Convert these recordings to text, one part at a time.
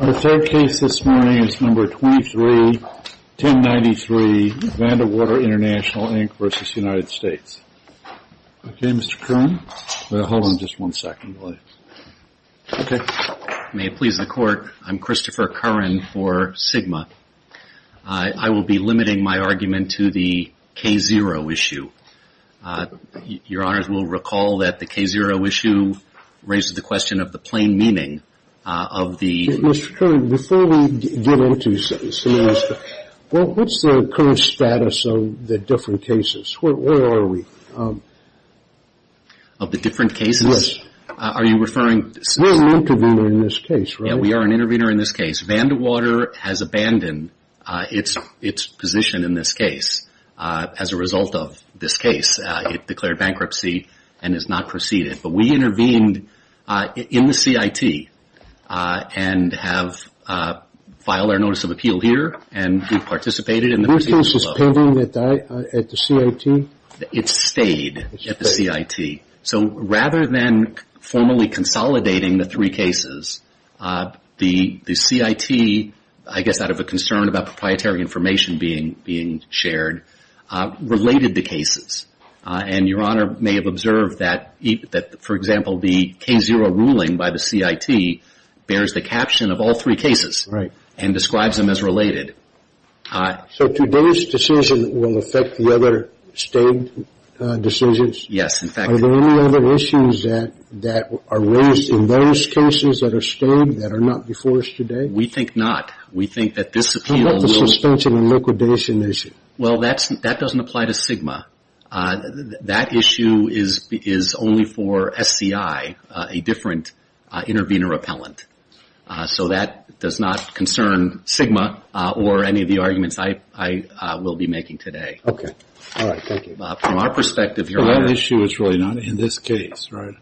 Our third case this morning is No. 23-1093, Vandewater International Inc. v. United States. Okay, Mr. Curran? Hold on just one second, please. May it please the Court, I'm Christopher Curran for Sigma. I will be limiting my argument to the K-0 issue. Your Honors will recall that the K-0 issue raises the question of the plain meaning of the Mr. Curran, before we get into this, what's the current status of the different cases? Where are we? Of the different cases? Yes. Are you referring to We're an intervener in this case, right? Yeah, we are an intervener in this case. Vandewater has abandoned its position in this case as a result of this case. It declared bankruptcy and has not proceeded. But we intervened in the CIT and have filed our notice of appeal here, and we've participated in the proceedings. Your case is pending at the CIT? It stayed at the CIT. So rather than formally consolidating the three cases, the CIT, I guess out of a concern about proprietary information being shared, related the cases. And Your Honor may have observed that, for example, the K-0 ruling by the CIT bears the caption of all three cases. Right. And describes them as related. So today's decision will affect the other stayed decisions? Yes, in fact. Are there any other issues that are raised in those cases that are stayed that are not before us today? We think not. We think that this appeal will How about the suspension and liquidation issue? Well, that doesn't apply to SGMA. That issue is only for SCI, a different intervener appellant. So that does not concern SGMA or any of the arguments I will be making today. Okay. All right. Thank you. From our perspective, Your Honor. That issue is really not in this case, right?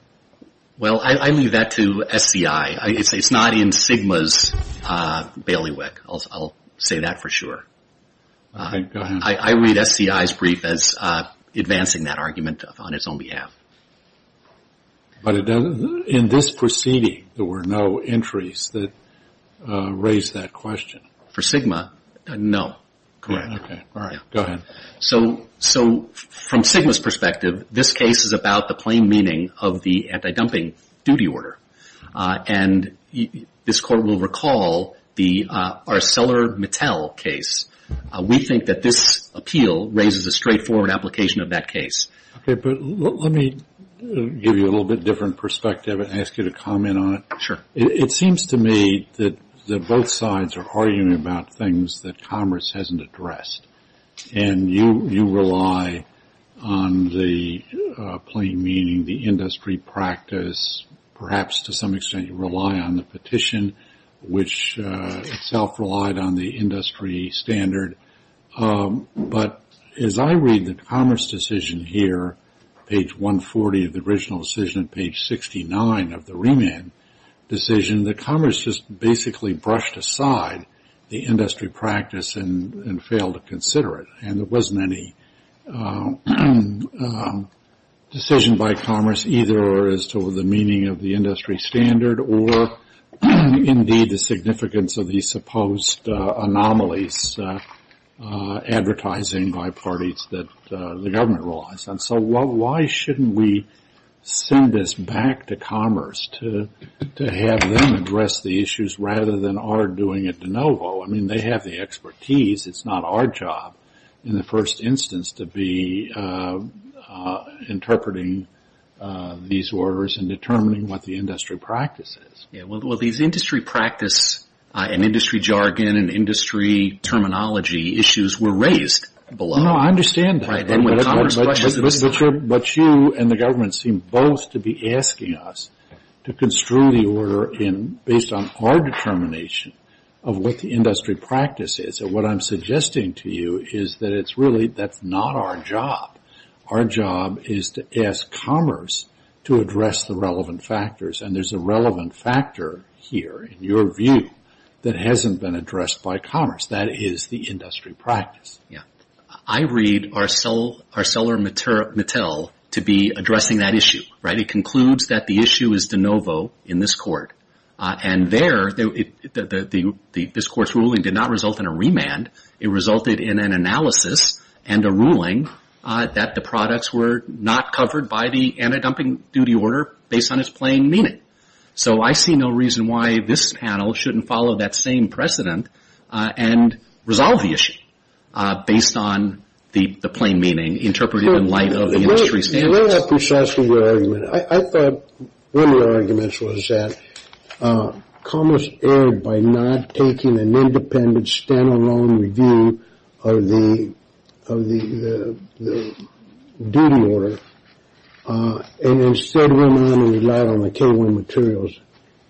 Well, I leave that to SCI. It's not in SGMA's bailiwick. I'll say that for sure. Okay. Go ahead. I read SCI's brief as advancing that argument on its own behalf. But in this proceeding, there were no entries that raised that question. For SGMA, no. Correct. Okay. All right. Go ahead. So from SGMA's perspective, this case is about the plain meaning of the anti-dumping duty order. And this Court will recall the ArcelorMittal case. We think that this appeal raises a straightforward application of that case. Okay. But let me give you a little bit different perspective and ask you to comment on it. Sure. It seems to me that both sides are arguing about things that Congress hasn't addressed. And you rely on the plain meaning, the industry practice. Perhaps, to some extent, you rely on the petition, which itself relied on the industry standard. But as I read the Commerce decision here, page 140 of the original decision and page 69 of the remand decision, the Commerce just basically brushed aside the industry practice and failed to consider it. And there wasn't any decision by Commerce either as to the meaning of the industry standard or, indeed, the significance of these supposed anomalies advertising by parties that the government relies on. So why shouldn't we send this back to Commerce to have them address the issues rather than our doing it de novo? I mean, they have the expertise. It's not our job in the first instance to be interpreting these orders and determining what the industry practice is. Well, these industry practice and industry jargon and industry terminology issues were raised below. No, I understand that. But you and the government seem both to be asking us to construe the order based on our determination of what the industry practice is. And what I'm suggesting to you is that it's really that's not our job. Our job is to ask Commerce to address the relevant factors. And there's a relevant factor here, in your view, that hasn't been addressed by Commerce. That is the industry practice. Yeah. I read ArcelorMittal to be addressing that issue, right? It concludes that the issue is de novo in this court. And there, this court's ruling did not result in a remand. It resulted in an analysis and a ruling that the products were not covered by the anti-dumping duty order based on its plain meaning. So I see no reason why this panel shouldn't follow that same precedent and resolve the issue based on the plain meaning interpreted in light of the industry standards. Let me ask precisely your argument. I thought one of your arguments was that Commerce erred by not taking an independent, stand-alone review of the duty order and instead went on to rely on the K1 materials.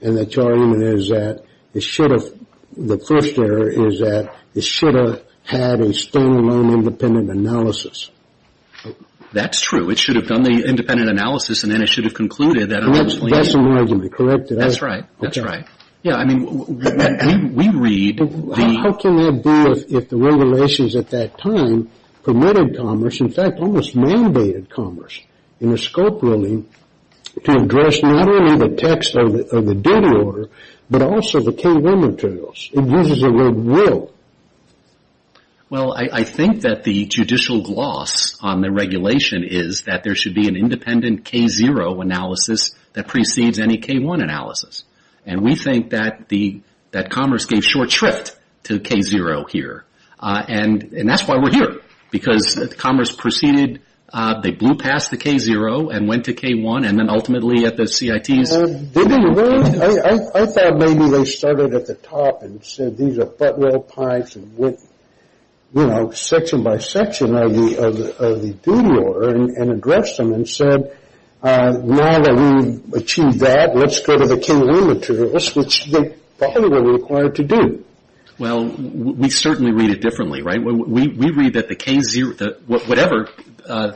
And that your argument is that it should have, the first error is that it should have had a stand-alone independent analysis. That's true. It should have done the independent analysis, and then it should have concluded that That's an argument. Correct? That's right. That's right. Yeah, I mean, we read the How can that be if the regulations at that time permitted Commerce, in fact almost mandated Commerce, in the scope ruling to address not only the text of the duty order, but also the K1 materials? It uses the word will. Well, I think that the judicial gloss on the regulation is that there should be an independent K0 analysis that precedes any K1 analysis. And we think that Commerce gave short shrift to K0 here. And that's why we're here, because Commerce proceeded. They blew past the K0 and went to K1 and then ultimately at the CITs. I thought maybe they started at the top and said these are butt-roll pipes and went, you know, section by section of the duty order and addressed them and said, now that we've achieved that, let's go to the K1 materials, which they probably were required to do. Well, we certainly read it differently, right? We read that the K0, whatever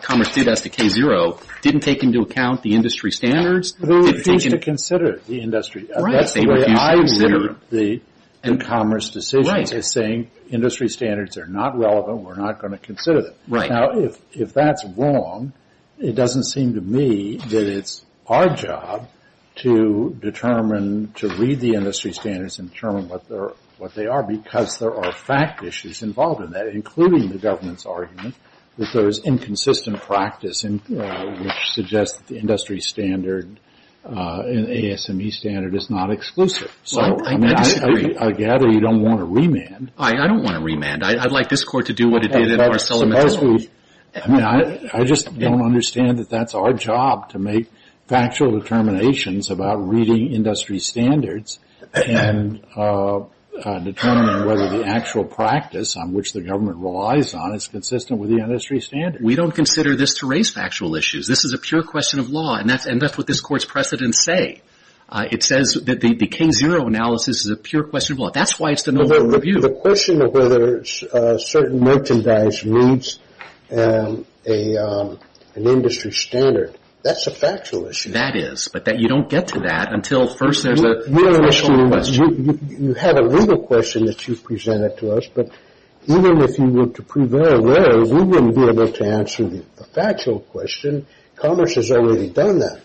Commerce did as to K0, didn't take into account the industry standards. They refused to consider the industry. That's the way I view the Commerce decisions, is saying industry standards are not relevant. We're not going to consider them. Now, if that's wrong, it doesn't seem to me that it's our job to determine, to read the industry standards and determine what they are, because there are fact issues involved in that, including the government's argument that there is inconsistent practice, which suggests that the industry standard and ASME standard is not exclusive. So I gather you don't want a remand. I don't want a remand. I'd like this Court to do what it did in Marcelo Mazzoli. I mean, I just don't understand that that's our job, to make factual determinations about reading industry standards and determining whether the actual practice on which the government relies on is consistent with the industry standards. We don't consider this to raise factual issues. This is a pure question of law, and that's what this Court's precedents say. It says that the K0 analysis is a pure question of law. That's why it's the normal review. The question of whether certain merchandise meets an industry standard, that's a factual issue. That is, but you don't get to that until first there's a factual question. You have a legal question that you've presented to us, but even if you were to prove error there, we wouldn't be able to answer the factual question. Commerce has already done that.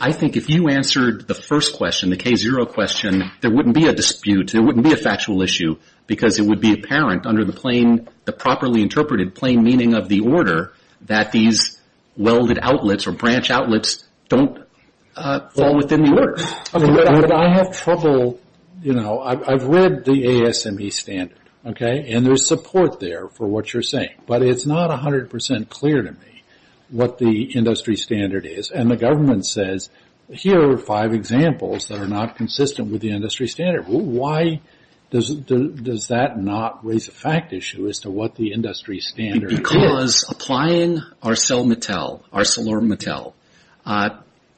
I think if you answered the first question, the K0 question, there wouldn't be a dispute. There wouldn't be a factual issue because it would be apparent under the properly interpreted plain meaning of the order that these welded outlets or branch outlets don't fall within the order. I have trouble. I've read the ASME standard, and there's support there for what you're saying, but it's not 100% clear to me what the industry standard is, and the government says, here are five examples that are not consistent with the industry standard. Why does that not raise a fact issue as to what the industry standard is? Because applying ArcelorMittal,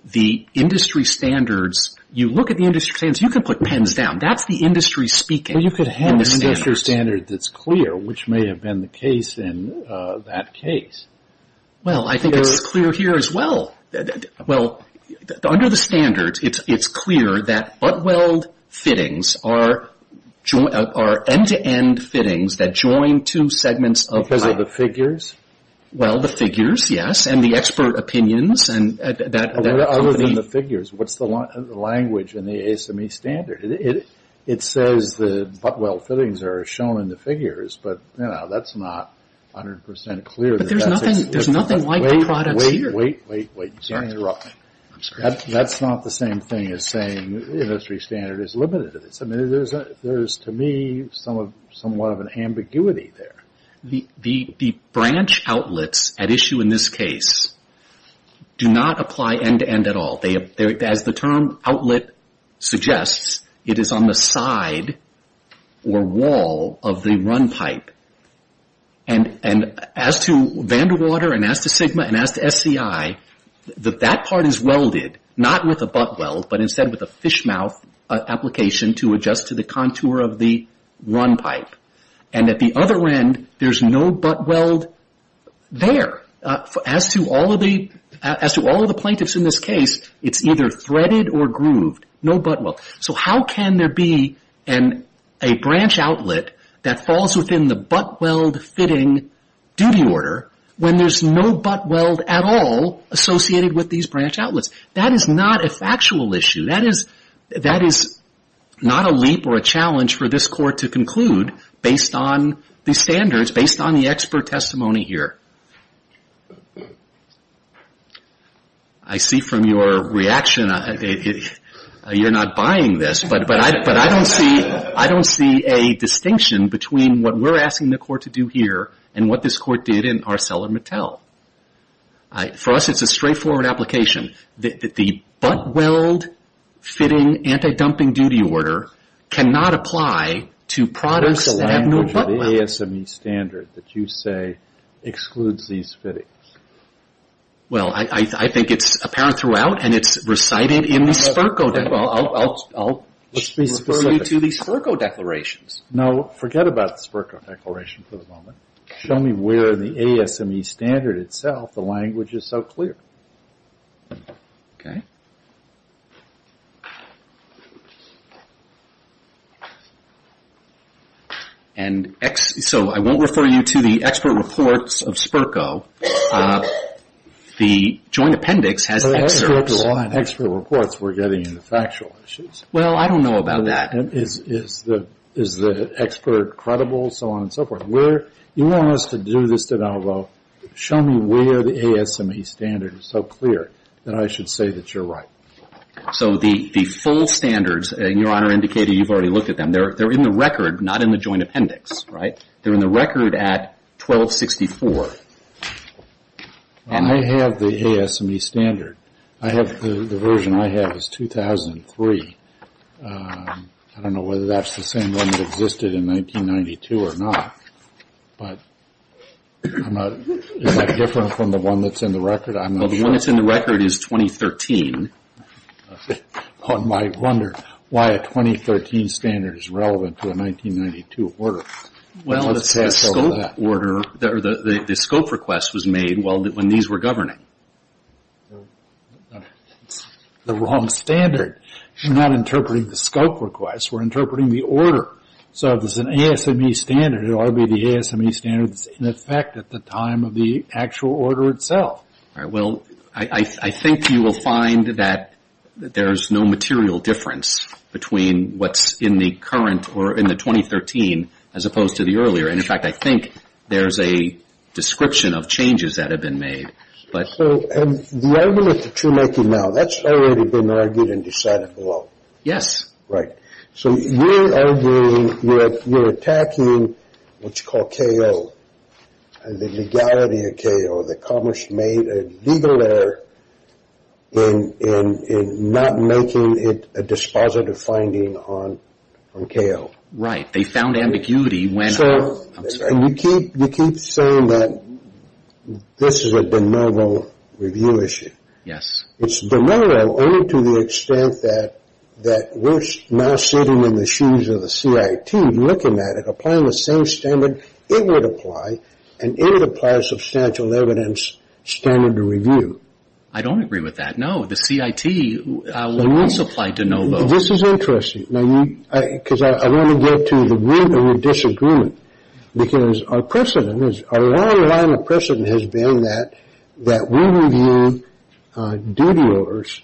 the industry standards, you look at the industry standards. You can put pens down. That's the industry speaking. You could have an industry standard that's clear, which may have been the case in that case. Well, I think it's clear here as well. Well, under the standards, it's clear that butt-weld fittings are end-to-end fittings that join two segments of pipe. Because of the figures? Well, the figures, yes, and the expert opinions. Other than the figures, what's the language in the ASME standard? It says the butt-weld fittings are shown in the figures, but that's not 100% clear. But there's nothing like the products here. Wait, wait, wait. Sorry for the interruption. That's not the same thing as saying the industry standard is limited. I mean, there's, to me, somewhat of an ambiguity there. The branch outlets at issue in this case do not apply end-to-end at all. As the term outlet suggests, it is on the side or wall of the run pipe. And as to Vanderwater and as to SGMA and as to SCI, that part is welded, not with a butt-weld, but instead with a fish-mouth application to adjust to the contour of the run pipe. And at the other end, there's no butt-weld there. As to all of the plaintiffs in this case, it's either threaded or grooved. No butt-weld. So how can there be a branch outlet that falls within the butt-weld fitting duty order when there's no butt-weld at all associated with these branch outlets? That is not a factual issue. That is not a leap or a challenge for this court to conclude based on the standards, based on the expert testimony here. I see from your reaction, you're not buying this. But I don't see a distinction between what we're asking the court to do here and what this court did in ArcelorMittal. For us, it's a straightforward application. The butt-weld fitting anti-dumping duty order cannot apply to products that have no butt-weld. What about the ASME standard that you say excludes these fittings? Well, I think it's apparent throughout, and it's recited in the SPERCO. I'll refer you to the SPERCO declarations. No, forget about the SPERCO declarations for the moment. Show me where the ASME standard itself, the language is so clear. Okay. And so I won't refer you to the expert reports of SPERCO. The Joint Appendix has experts. Well, that's the line, expert reports, we're getting into factual issues. Well, I don't know about that. Is the expert credible, so on and so forth? You want us to do this, then I'll go, show me where the ASME standard is so clear that I should say that you're right. So the full standards, Your Honor indicated you've already looked at them, they're in the record, not in the Joint Appendix, right? They're in the record at 1264. I have the ASME standard. The version I have is 2003. I don't know whether that's the same one that existed in 1992 or not, but is that different from the one that's in the record? Well, the one that's in the record is 2013. One might wonder why a 2013 standard is relevant to a 1992 order. Well, the scope request was made when these were governing. It's the wrong standard. You're not interpreting the scope request, we're interpreting the order. So if it's an ASME standard, it ought to be the ASME standard that's in effect at the time of the actual order itself. Well, I think you will find that there's no material difference between what's in the current or in the 2013 as opposed to the earlier, and, in fact, I think there's a description of changes that have been made. So the argument that you're making now, that's already been argued and decided for law. Yes. Right. So you're arguing that you're attacking what's called KO, the legality of KO, that Congress made a legal error in not making it a dispositive finding on KO. They found ambiguity when – I'm sorry. You keep saying that this is a de novo review issue. Yes. It's de novo only to the extent that we're now sitting in the shoes of the CIT looking at it, applying the same standard it would apply, and it would apply a substantial evidence standard to review. I don't agree with that. No, the CIT would also apply de novo. This is interesting because I want to get to the root of the disagreement because our precedent is – our long line of precedent has been that we review duty orders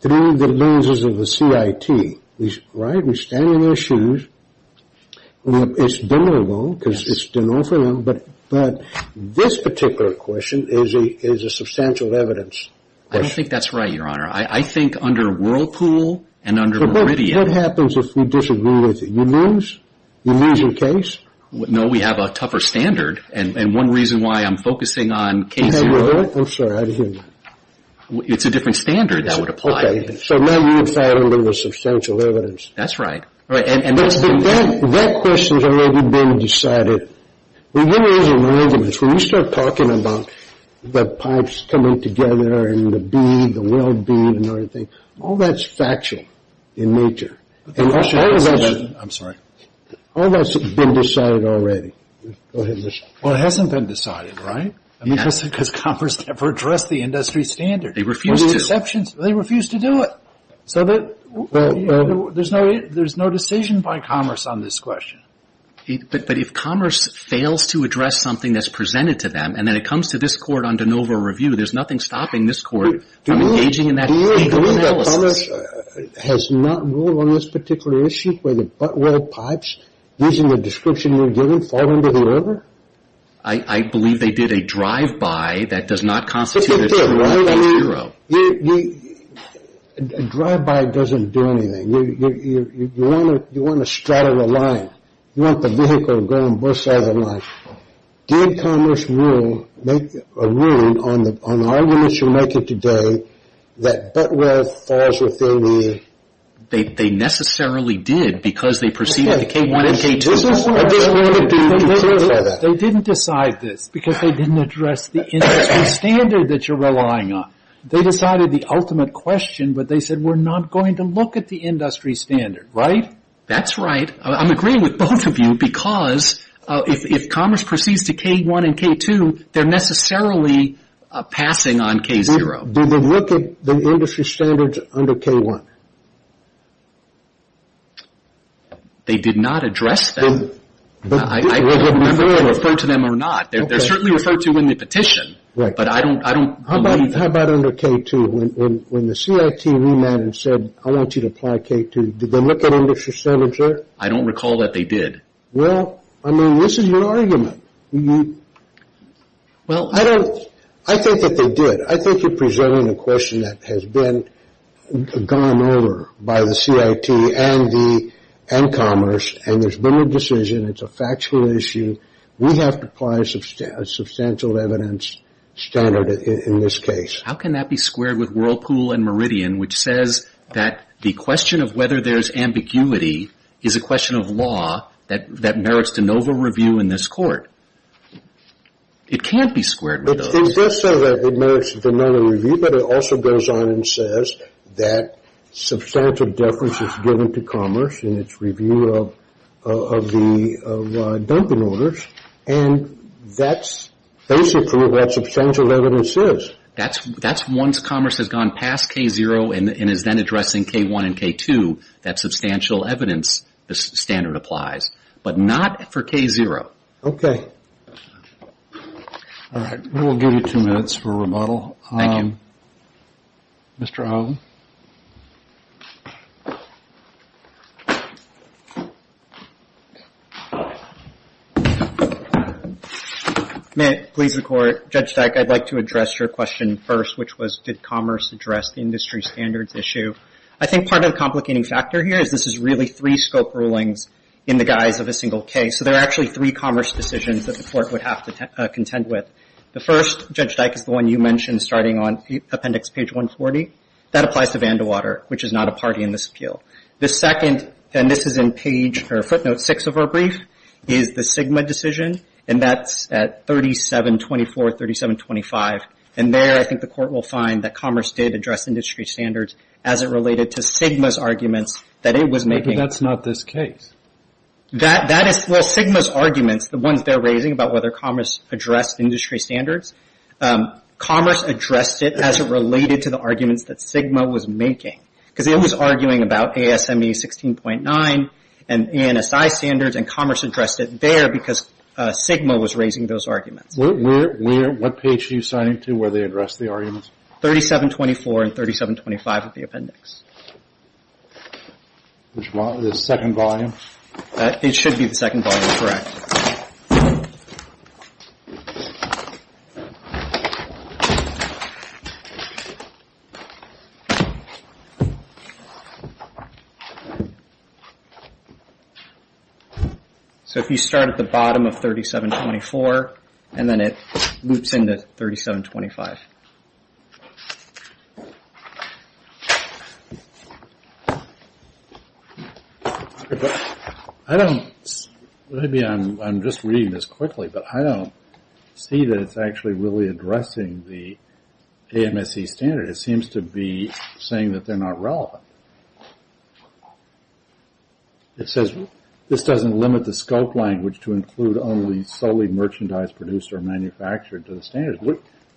through the lenses of the CIT. Right? We stand in their shoes. It's de novo because it's de novo for them, but this particular question is a substantial evidence question. I don't think that's right, Your Honor. I think under Whirlpool and under Meridian – But what happens if we disagree with it? You lose? You lose your case? No, we have a tougher standard, and one reason why I'm focusing on case – I'm sorry. I didn't hear you. It's a different standard that would apply. Okay. So now you would say I don't believe there's substantial evidence. That's right. But that question's already been decided. When you start talking about the pipes coming together and the B, the well-being and everything, all that's factual in nature. I'm sorry. All that's been decided already. Well, it hasn't been decided, right? Because commerce never addressed the industry standard. They refused to. They refused to do it. There's no decision by commerce on this question. But if commerce fails to address something that's presented to them, and then it comes to this court on de novo review, there's nothing stopping this court from engaging in that legal analysis. Do you believe that commerce has not ruled on this particular issue, where the butt-well pipes, using the description you're giving, fall into the river? I believe they did a drive-by that does not constitute a true hero. A drive-by doesn't do anything. You want to straddle a line. You want the vehicle to go and burst out of the line. Did commerce rule on the argument you're making today that butt-well falls within the river? They necessarily did because they preceded the K-1 and K-2. I just wanted to clarify that. They didn't decide this because they didn't address the industry standard that you're relying on. They decided the ultimate question, but they said we're not going to look at the industry standard, right? That's right. I'm agreeing with both of you because if commerce proceeds to K-1 and K-2, they're necessarily passing on K-0. Did they look at the industry standards under K-1? They did not address them. I don't know if they referred to them or not. They're certainly referred to in the petition, but I don't believe that. How about under K-2? When the CIT remanded and said, I want you to apply K-2, did they look at industry standards there? I don't recall that they did. Well, I mean, this is your argument. I think that they did. I think you're presenting a question that has been gone over by the CIT and commerce, and there's been a decision. It's a factual issue. We have to apply a substantial evidence standard in this case. How can that be squared with Whirlpool and Meridian, which says that the question of whether there's ambiguity is a question of law that merits de novo review in this court? It can't be squared with those. It does say that it merits de novo review, but it also goes on and says that substantial deference is given to commerce in its review of the dumping orders, and that's basically what substantial evidence is. That's once commerce has gone past K-0 and is then addressing K-1 and K-2, that substantial evidence standard applies, but not for K-0. Okay. All right. We will give you two minutes for rebuttal. Thank you. Mr. Howley? May it please the Court, Judge Dyk, I'd like to address your question first, which was did commerce address the industry standards issue? I think part of the complicating factor here is this is really three scope rulings in the guise of a single case. So there are actually three commerce decisions that the Court would have to contend with. The first, Judge Dyk, is the one you mentioned starting on appendix page 140. That applies to Vandewater, which is not a party in this appeal. The second, and this is in footnote six of our brief, is the Sigma decision, and that's at 3724, 3725. And there I think the Court will find that commerce did address industry standards as it related to Sigma's arguments that it was making. But that's not this case. Well, Sigma's arguments, the ones they're raising about whether commerce addressed industry standards, commerce addressed it as it related to the arguments that Sigma was making. Because it was arguing about ASME 16.9 and ANSI standards, and commerce addressed it there because Sigma was raising those arguments. What page are you signing to where they addressed the arguments? 3724 and 3725 of the appendix. Which one, the second volume? It should be the second volume, correct. So if you start at the bottom of 3724 and then it loops into 3725. I don't, maybe I'm just reading this quickly, but I don't see that it's actually really addressing the AMSE standard. It seems to be saying that they're not relevant. It says this doesn't limit the scope language to include only solely merchandise produced or manufactured to the standards.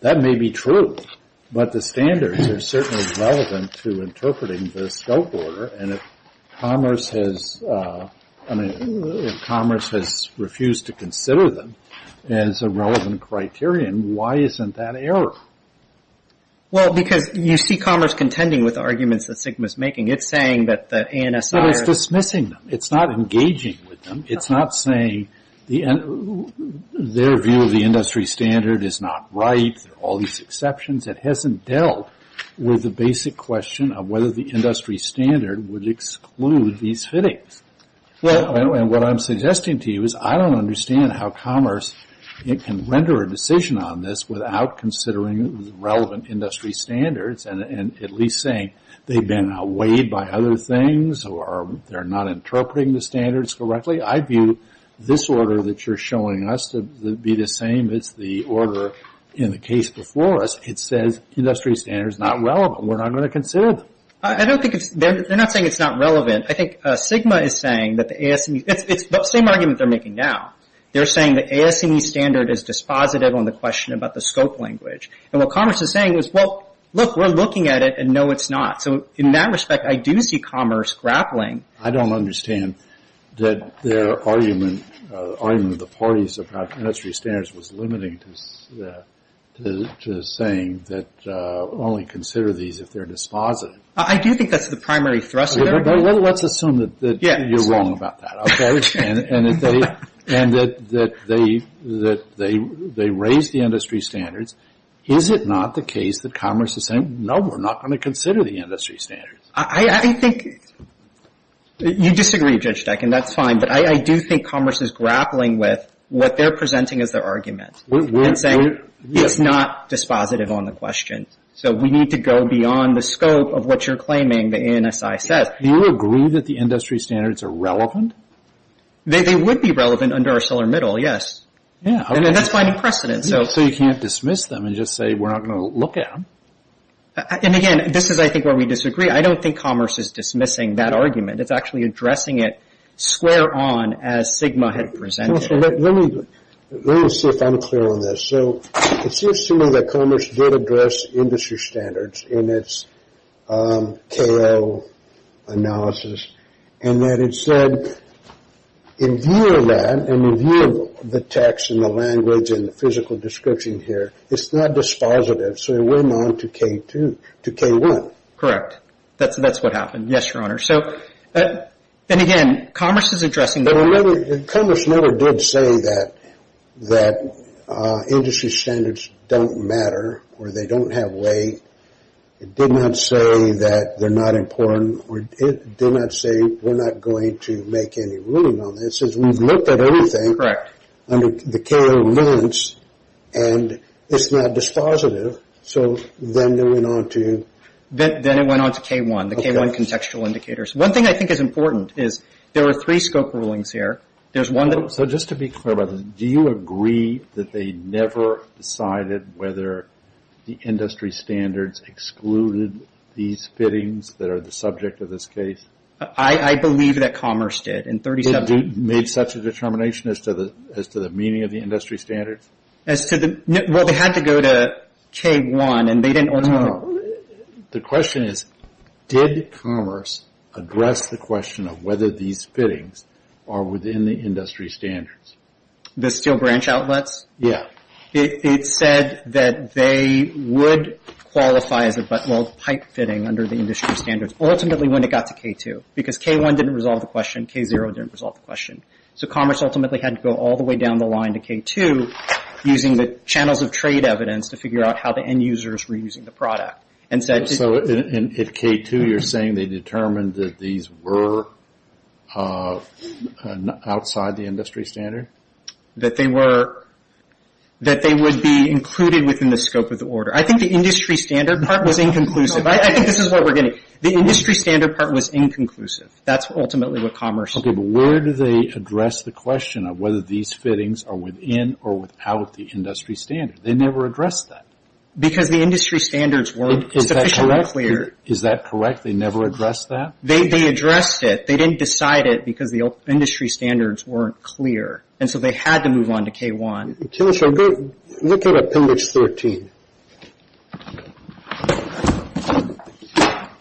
That may be true, but the standards are certainly relevant to interpreting the scope order. And if commerce has, I mean, if commerce has refused to consider them as a relevant criterion, why isn't that error? Well, because you see commerce contending with the arguments that Sigma's making. It's saying that the ANSI. No, it's dismissing them. It's not engaging with them. It's not saying their view of the industry standard is not right. There are all these exceptions. It hasn't dealt with the basic question of whether the industry standard would exclude these fittings. And what I'm suggesting to you is I don't understand how commerce can render a decision on this without considering the relevant industry standards and at least saying they've been weighed by other things or they're not interpreting the standards correctly. I view this order that you're showing us to be the same as the order in the case before us. It says industry standard's not relevant. We're not going to consider them. I don't think it's – they're not saying it's not relevant. I think Sigma is saying that the ASME – it's the same argument they're making now. They're saying the ASME standard is dispositive on the question about the scope language. And what commerce is saying is, well, look, we're looking at it, and no, it's not. So in that respect, I do see commerce grappling. I don't understand that their argument, the argument of the parties about industry standards, was limiting to saying that only consider these if they're dispositive. I do think that's the primary thrust there. Let's assume that you're wrong about that, okay, and that they raised the industry standards. Is it not the case that commerce is saying, no, we're not going to consider the industry standards? I think – you disagree, Judge Steck, and that's fine, but I do think commerce is grappling with what they're presenting as their argument and saying it's not dispositive on the question. So we need to go beyond the scope of what you're claiming the ANSI says. Do you agree that the industry standards are relevant? They would be relevant under our solar middle, yes. Yeah. And that's finding precedent. So you can't dismiss them and just say we're not going to look at them. And, again, this is, I think, where we disagree. I don't think commerce is dismissing that argument. It's actually addressing it square on as Sigma had presented it. Let me see if I'm clear on this. So it seems to me that commerce did address industry standards in its KO analysis and that it said in view of that, in view of the text and the language and the physical description here, it's not dispositive, so it went on to K1. Correct. That's what happened. Yes, Your Honor. So, and, again, commerce is addressing that. Commerce never did say that industry standards don't matter or they don't have weight. It did not say that they're not important. It did not say we're not going to make any ruling on this. It says we've looked at everything. Correct. And it's not dispositive. So then it went on to? Then it went on to K1, the K1 contextual indicators. One thing I think is important is there are three scope rulings here. So just to be clear about this, do you agree that they never decided whether the industry standards excluded these fittings that are the subject of this case? I believe that commerce did. Made such a determination as to the meaning of the industry standards? Well, they had to go to K1, and they didn't ultimately. The question is, did commerce address the question of whether these fittings are within the industry standards? The steel branch outlets? Yes. It said that they would qualify as a pipe fitting under the industry standards, ultimately when it got to K2, because K1 didn't resolve the question. K0 didn't resolve the question. So commerce ultimately had to go all the way down the line to K2, using the channels of trade evidence to figure out how the end users were using the product. So at K2 you're saying they determined that these were outside the industry standard? That they would be included within the scope of the order. I think the industry standard part was inconclusive. I think this is what we're getting. The industry standard part was inconclusive. That's ultimately what commerce did. Okay. But where do they address the question of whether these fittings are within or without the industry standard? They never addressed that. Because the industry standards were sufficiently clear. Is that correct? They never addressed that? They addressed it. They didn't decide it because the industry standards weren't clear. And so they had to move on to K1. Look at Appendix 13.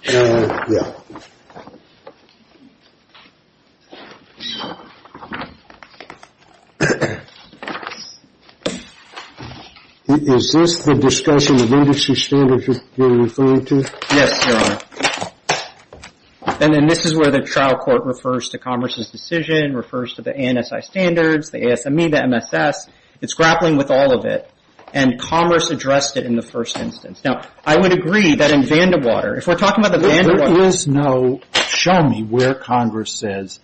Yeah. Is this the discussion of industry standards you're referring to? Yes, Your Honor. And then this is where the trial court refers to commerce's decision, refers to the ANSI standards, the ASME, the MSS. It's grappling with all of it. And commerce addressed it in the first instance. Now, I would agree that in Vandewater, if we're talking about the Vandewater. There is no show me where Congress says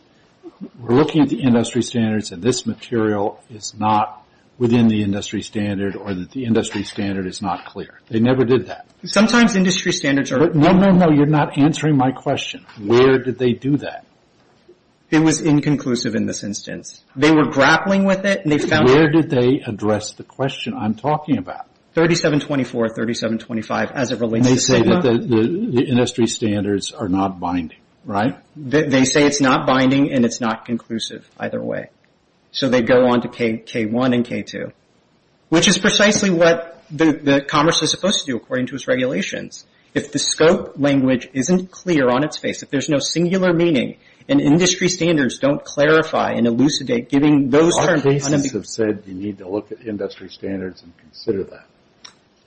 we're looking at the industry standards and this material is not within the industry standard or that the industry standard is not clear. They never did that. Sometimes industry standards are. No, no, no. You're not answering my question. Where did they do that? It was inconclusive in this instance. They were grappling with it and they found it. Where did they address the question I'm talking about? 3724, 3725, as it relates to CIPA. And they say that the industry standards are not binding, right? They say it's not binding and it's not conclusive either way. So they go on to K1 and K2, which is precisely what commerce is supposed to do according to its regulations. If the scope language isn't clear on its face, if there's no singular meaning and industry standards don't clarify and elucidate giving those terms. Our cases have said you need to look at industry standards and consider that.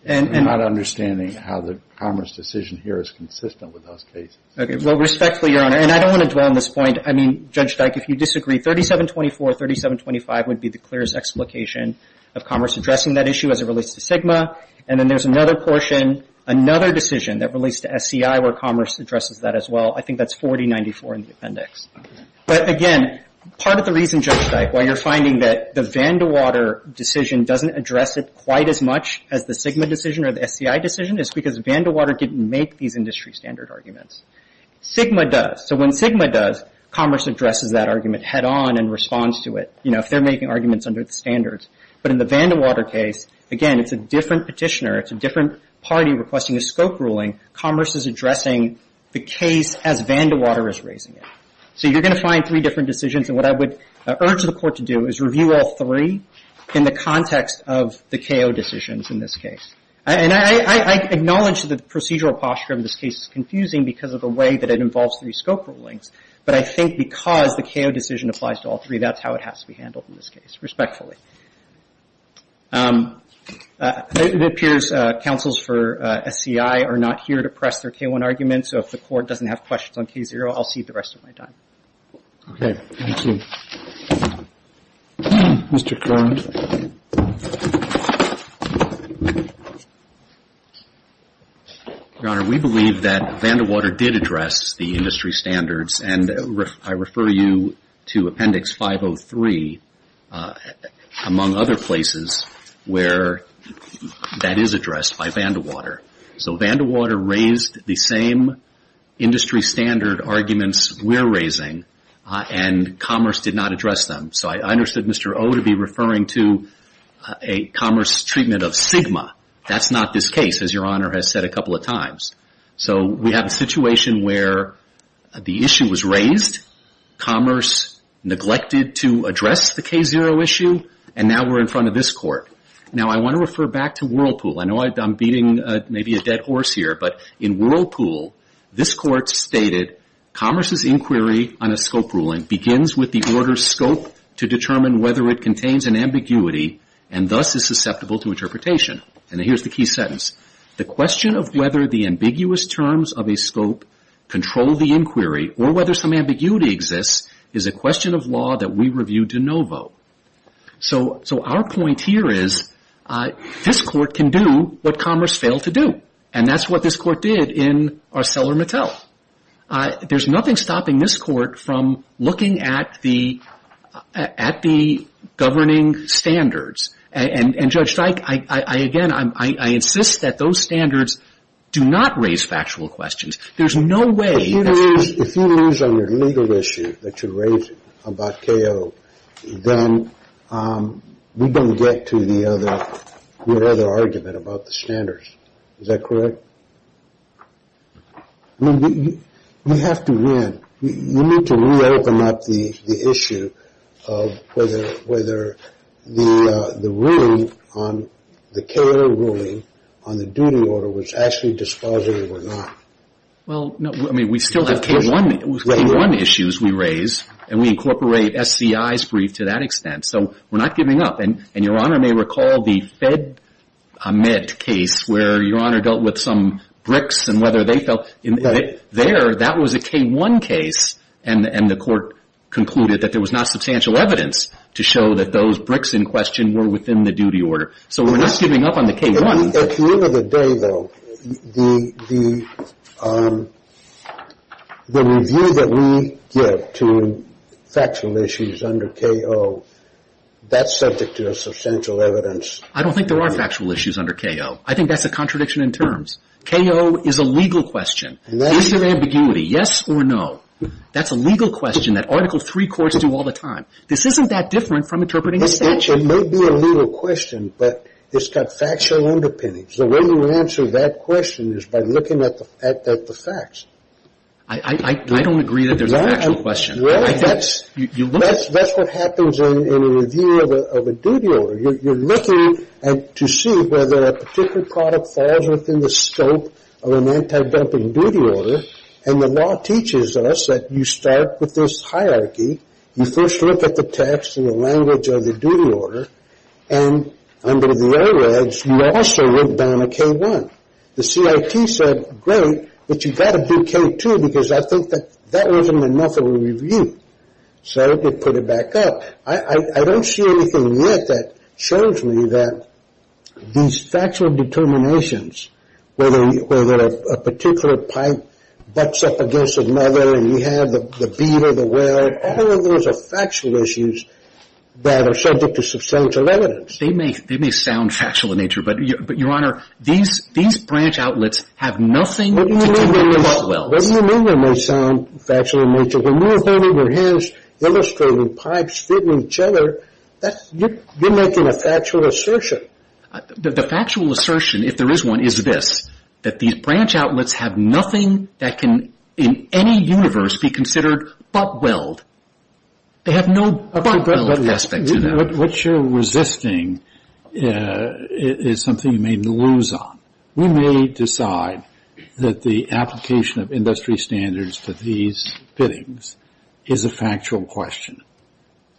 We're not understanding how the commerce decision here is consistent with those cases. Okay. Well, respectfully, Your Honor, and I don't want to dwell on this point. I mean, Judge Dyke, if you disagree, 3724, 3725 would be the clearest explication of commerce addressing that issue as it relates to SGMA. And then there's another portion, another decision that relates to SCI where commerce addresses that as well. I think that's 4094 in the appendix. But again, part of the reason, Judge Dyke, why you're finding that the Vandewater decision doesn't address it quite as much as the SGMA decision or the SCI decision is because Vandewater didn't make these industry standard arguments. SGMA does. So when SGMA does, commerce addresses that argument head on and responds to it, you know, if they're making arguments under the standards. But in the Vandewater case, again, it's a different petitioner. It's a different party requesting a scope ruling. Commerce is addressing the case as Vandewater is raising it. So you're going to find three different decisions. And what I would urge the Court to do is review all three in the context of the KO decisions in this case. And I acknowledge that the procedural posture of this case is confusing because of the way that it involves three scope rulings. But I think because the KO decision applies to all three, that's how it has to be handled in this case, respectfully. It appears counsels for SCI are not here to press their K-1 argument. So if the Court doesn't have questions on K-0, I'll cede the rest of my time. Okay. Thank you. Mr. Curran. Your Honor, we believe that Vandewater did address the industry standards. And I refer you to Appendix 503, among other places, where that is addressed by Vandewater. So Vandewater raised the same industry standard arguments we're raising, and Commerce did not address them. So I understood Mr. O to be referring to a Commerce treatment of Sigma. That's not this case, as Your Honor has said a couple of times. So we have a situation where the issue was raised, Commerce neglected to address the K-0 issue, and now we're in front of this Court. Now, I want to refer back to Whirlpool. I know I'm beating maybe a dead horse here, but in Whirlpool, this Court stated, Commerce's inquiry on a scope ruling begins with the order's scope to determine whether it contains an ambiguity and thus is susceptible to interpretation. And here's the key sentence. The question of whether the ambiguous terms of a scope control the inquiry or whether some ambiguity exists is a question of law that we review de novo. So our point here is, this Court can do what Commerce failed to do. And that's what this Court did in ArcelorMittal. There's nothing stopping this Court from looking at the governing standards. And, Judge Streich, I, again, I insist that those standards do not raise factual questions. There's no way that's going to... If you lose on your legal issue that you raised about K-0, then we don't get to the other argument about the standards. Is that correct? We have to win. You need to re-open up the issue of whether the ruling on the K-0 ruling on the duty order was actually dispositive or not. Well, no. I mean, we still have K-1 issues we raise, and we incorporate SCI's brief to that extent. So we're not giving up. And Your Honor may recall the Fed Amit case where Your Honor dealt with some bricks and whether they felt... There, that was a K-1 case, and the Court concluded that there was not substantial evidence to show that those bricks in question were within the duty order. So we're not giving up on the K-1. At the end of the day, though, the review that we give to factual issues under K-0, that's subject to a substantial evidence. I don't think there are factual issues under K-0. I think that's a contradiction in terms. K-0 is a legal question. It's an ambiguity, yes or no. That's a legal question that Article III courts do all the time. This isn't that different from interpreting a statute. It may be a legal question, but it's got factual underpinnings. The way you answer that question is by looking at the facts. I don't agree that there's a factual question. Well, that's what happens in a review of a duty order. You're looking to see whether a particular product falls within the scope of an anti-dumping duty order, and the law teaches us that you start with this hierarchy. You first look at the text and the language of the duty order, and under the AREDS, you also look down at K-1. The CIT said, great, but you've got to do K-2 because I think that that wasn't enough of a review. So they put it back up. I don't see anything yet that shows me that these factual determinations, whether a particular pipe butts up against another and you have the bead or the weld, all of those are factual issues that are subject to substantial evidence. They may sound factual in nature, but, Your Honor, these branch outlets have nothing to do with the welds. What do you mean they may sound factual in nature? When you're holding your hands, illustrating pipes fitting each other, you're making a factual assertion. The factual assertion, if there is one, is this, that these branch outlets have nothing that can, in any universe, be considered butt-weld. They have no butt-weld aspect to them. What you're resisting is something you may lose on. We may decide that the application of industry standards for these fittings is a factual question,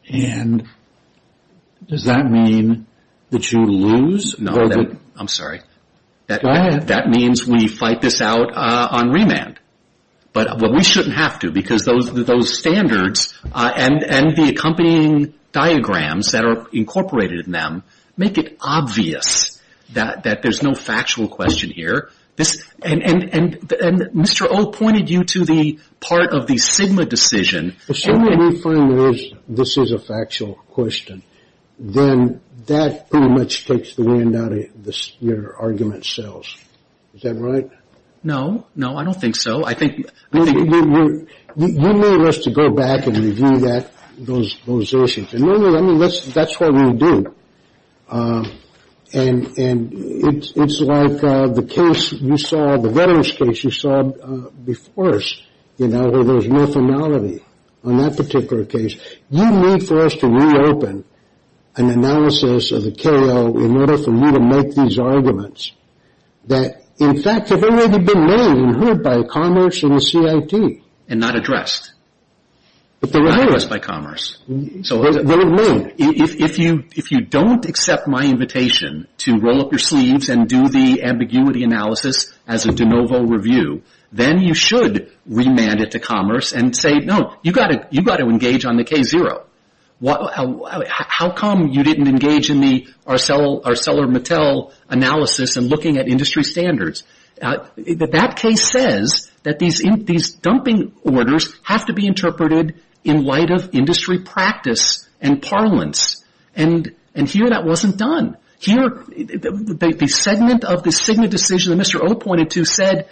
and does that mean that you lose? No, I'm sorry. Go ahead. That means we fight this out on remand, but we shouldn't have to because those standards and the accompanying diagrams that are incorporated in them make it obvious that there's no factual question here. And Mr. O pointed you to the part of the SGMA decision. Assuming we find this is a factual question, then that pretty much takes the wind out of your argument cells. Is that right? No. No, I don't think so. You may want us to go back and review those issues. That's what we'll do. It's like the case you saw, the veterans case you saw before us, where there's no finality on that particular case. You need for us to reopen an analysis of the KO in order for you to make these arguments that, in fact, have already been made and heard by commerce and the CIT. And not addressed. But they're addressed by commerce. So if you don't accept my invitation to roll up your sleeves and do the ambiguity analysis as a de novo review, then you should remand it to commerce and say, no, you've got to engage on the K0. How come you didn't engage in the ArcelorMittal analysis and looking at industry standards? That case says that these dumping orders have to be interpreted in light of industry practice and parlance. And here that wasn't done. The segment of the decision that Mr. O pointed to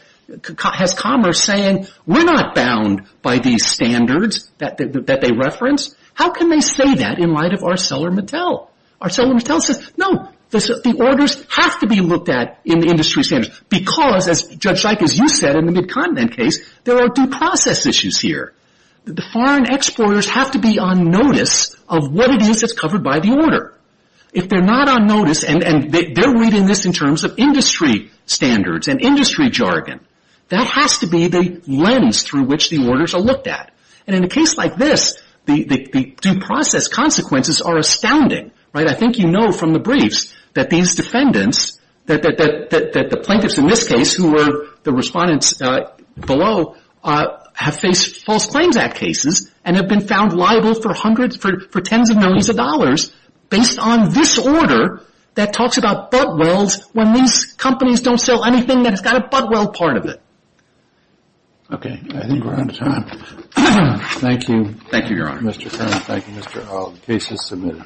has commerce saying, we're not bound by these standards that they reference. How can they say that in light of ArcelorMittal? ArcelorMittal says, no, the orders have to be looked at in the industry standards. Because, as Judge Zeick, as you said, in the Mid-Continent case, there are due process issues here. The foreign exporters have to be on notice of what it is that's covered by the order. If they're not on notice and they're reading this in terms of industry standards and industry jargon, that has to be the lens through which the orders are looked at. And in a case like this, the due process consequences are astounding. I think you know from the briefs that these defendants, that the plaintiffs in this case who were the respondents below, have faced False Claims Act cases and have been found liable for tens of millions of dollars based on this order that talks about butt welds when these companies don't sell anything that's got a butt weld part of it. Okay, I think we're out of time. Thank you. Thank you, Your Honor. Mr. Kern, thank you, Mr. Hogg. The case is submitted.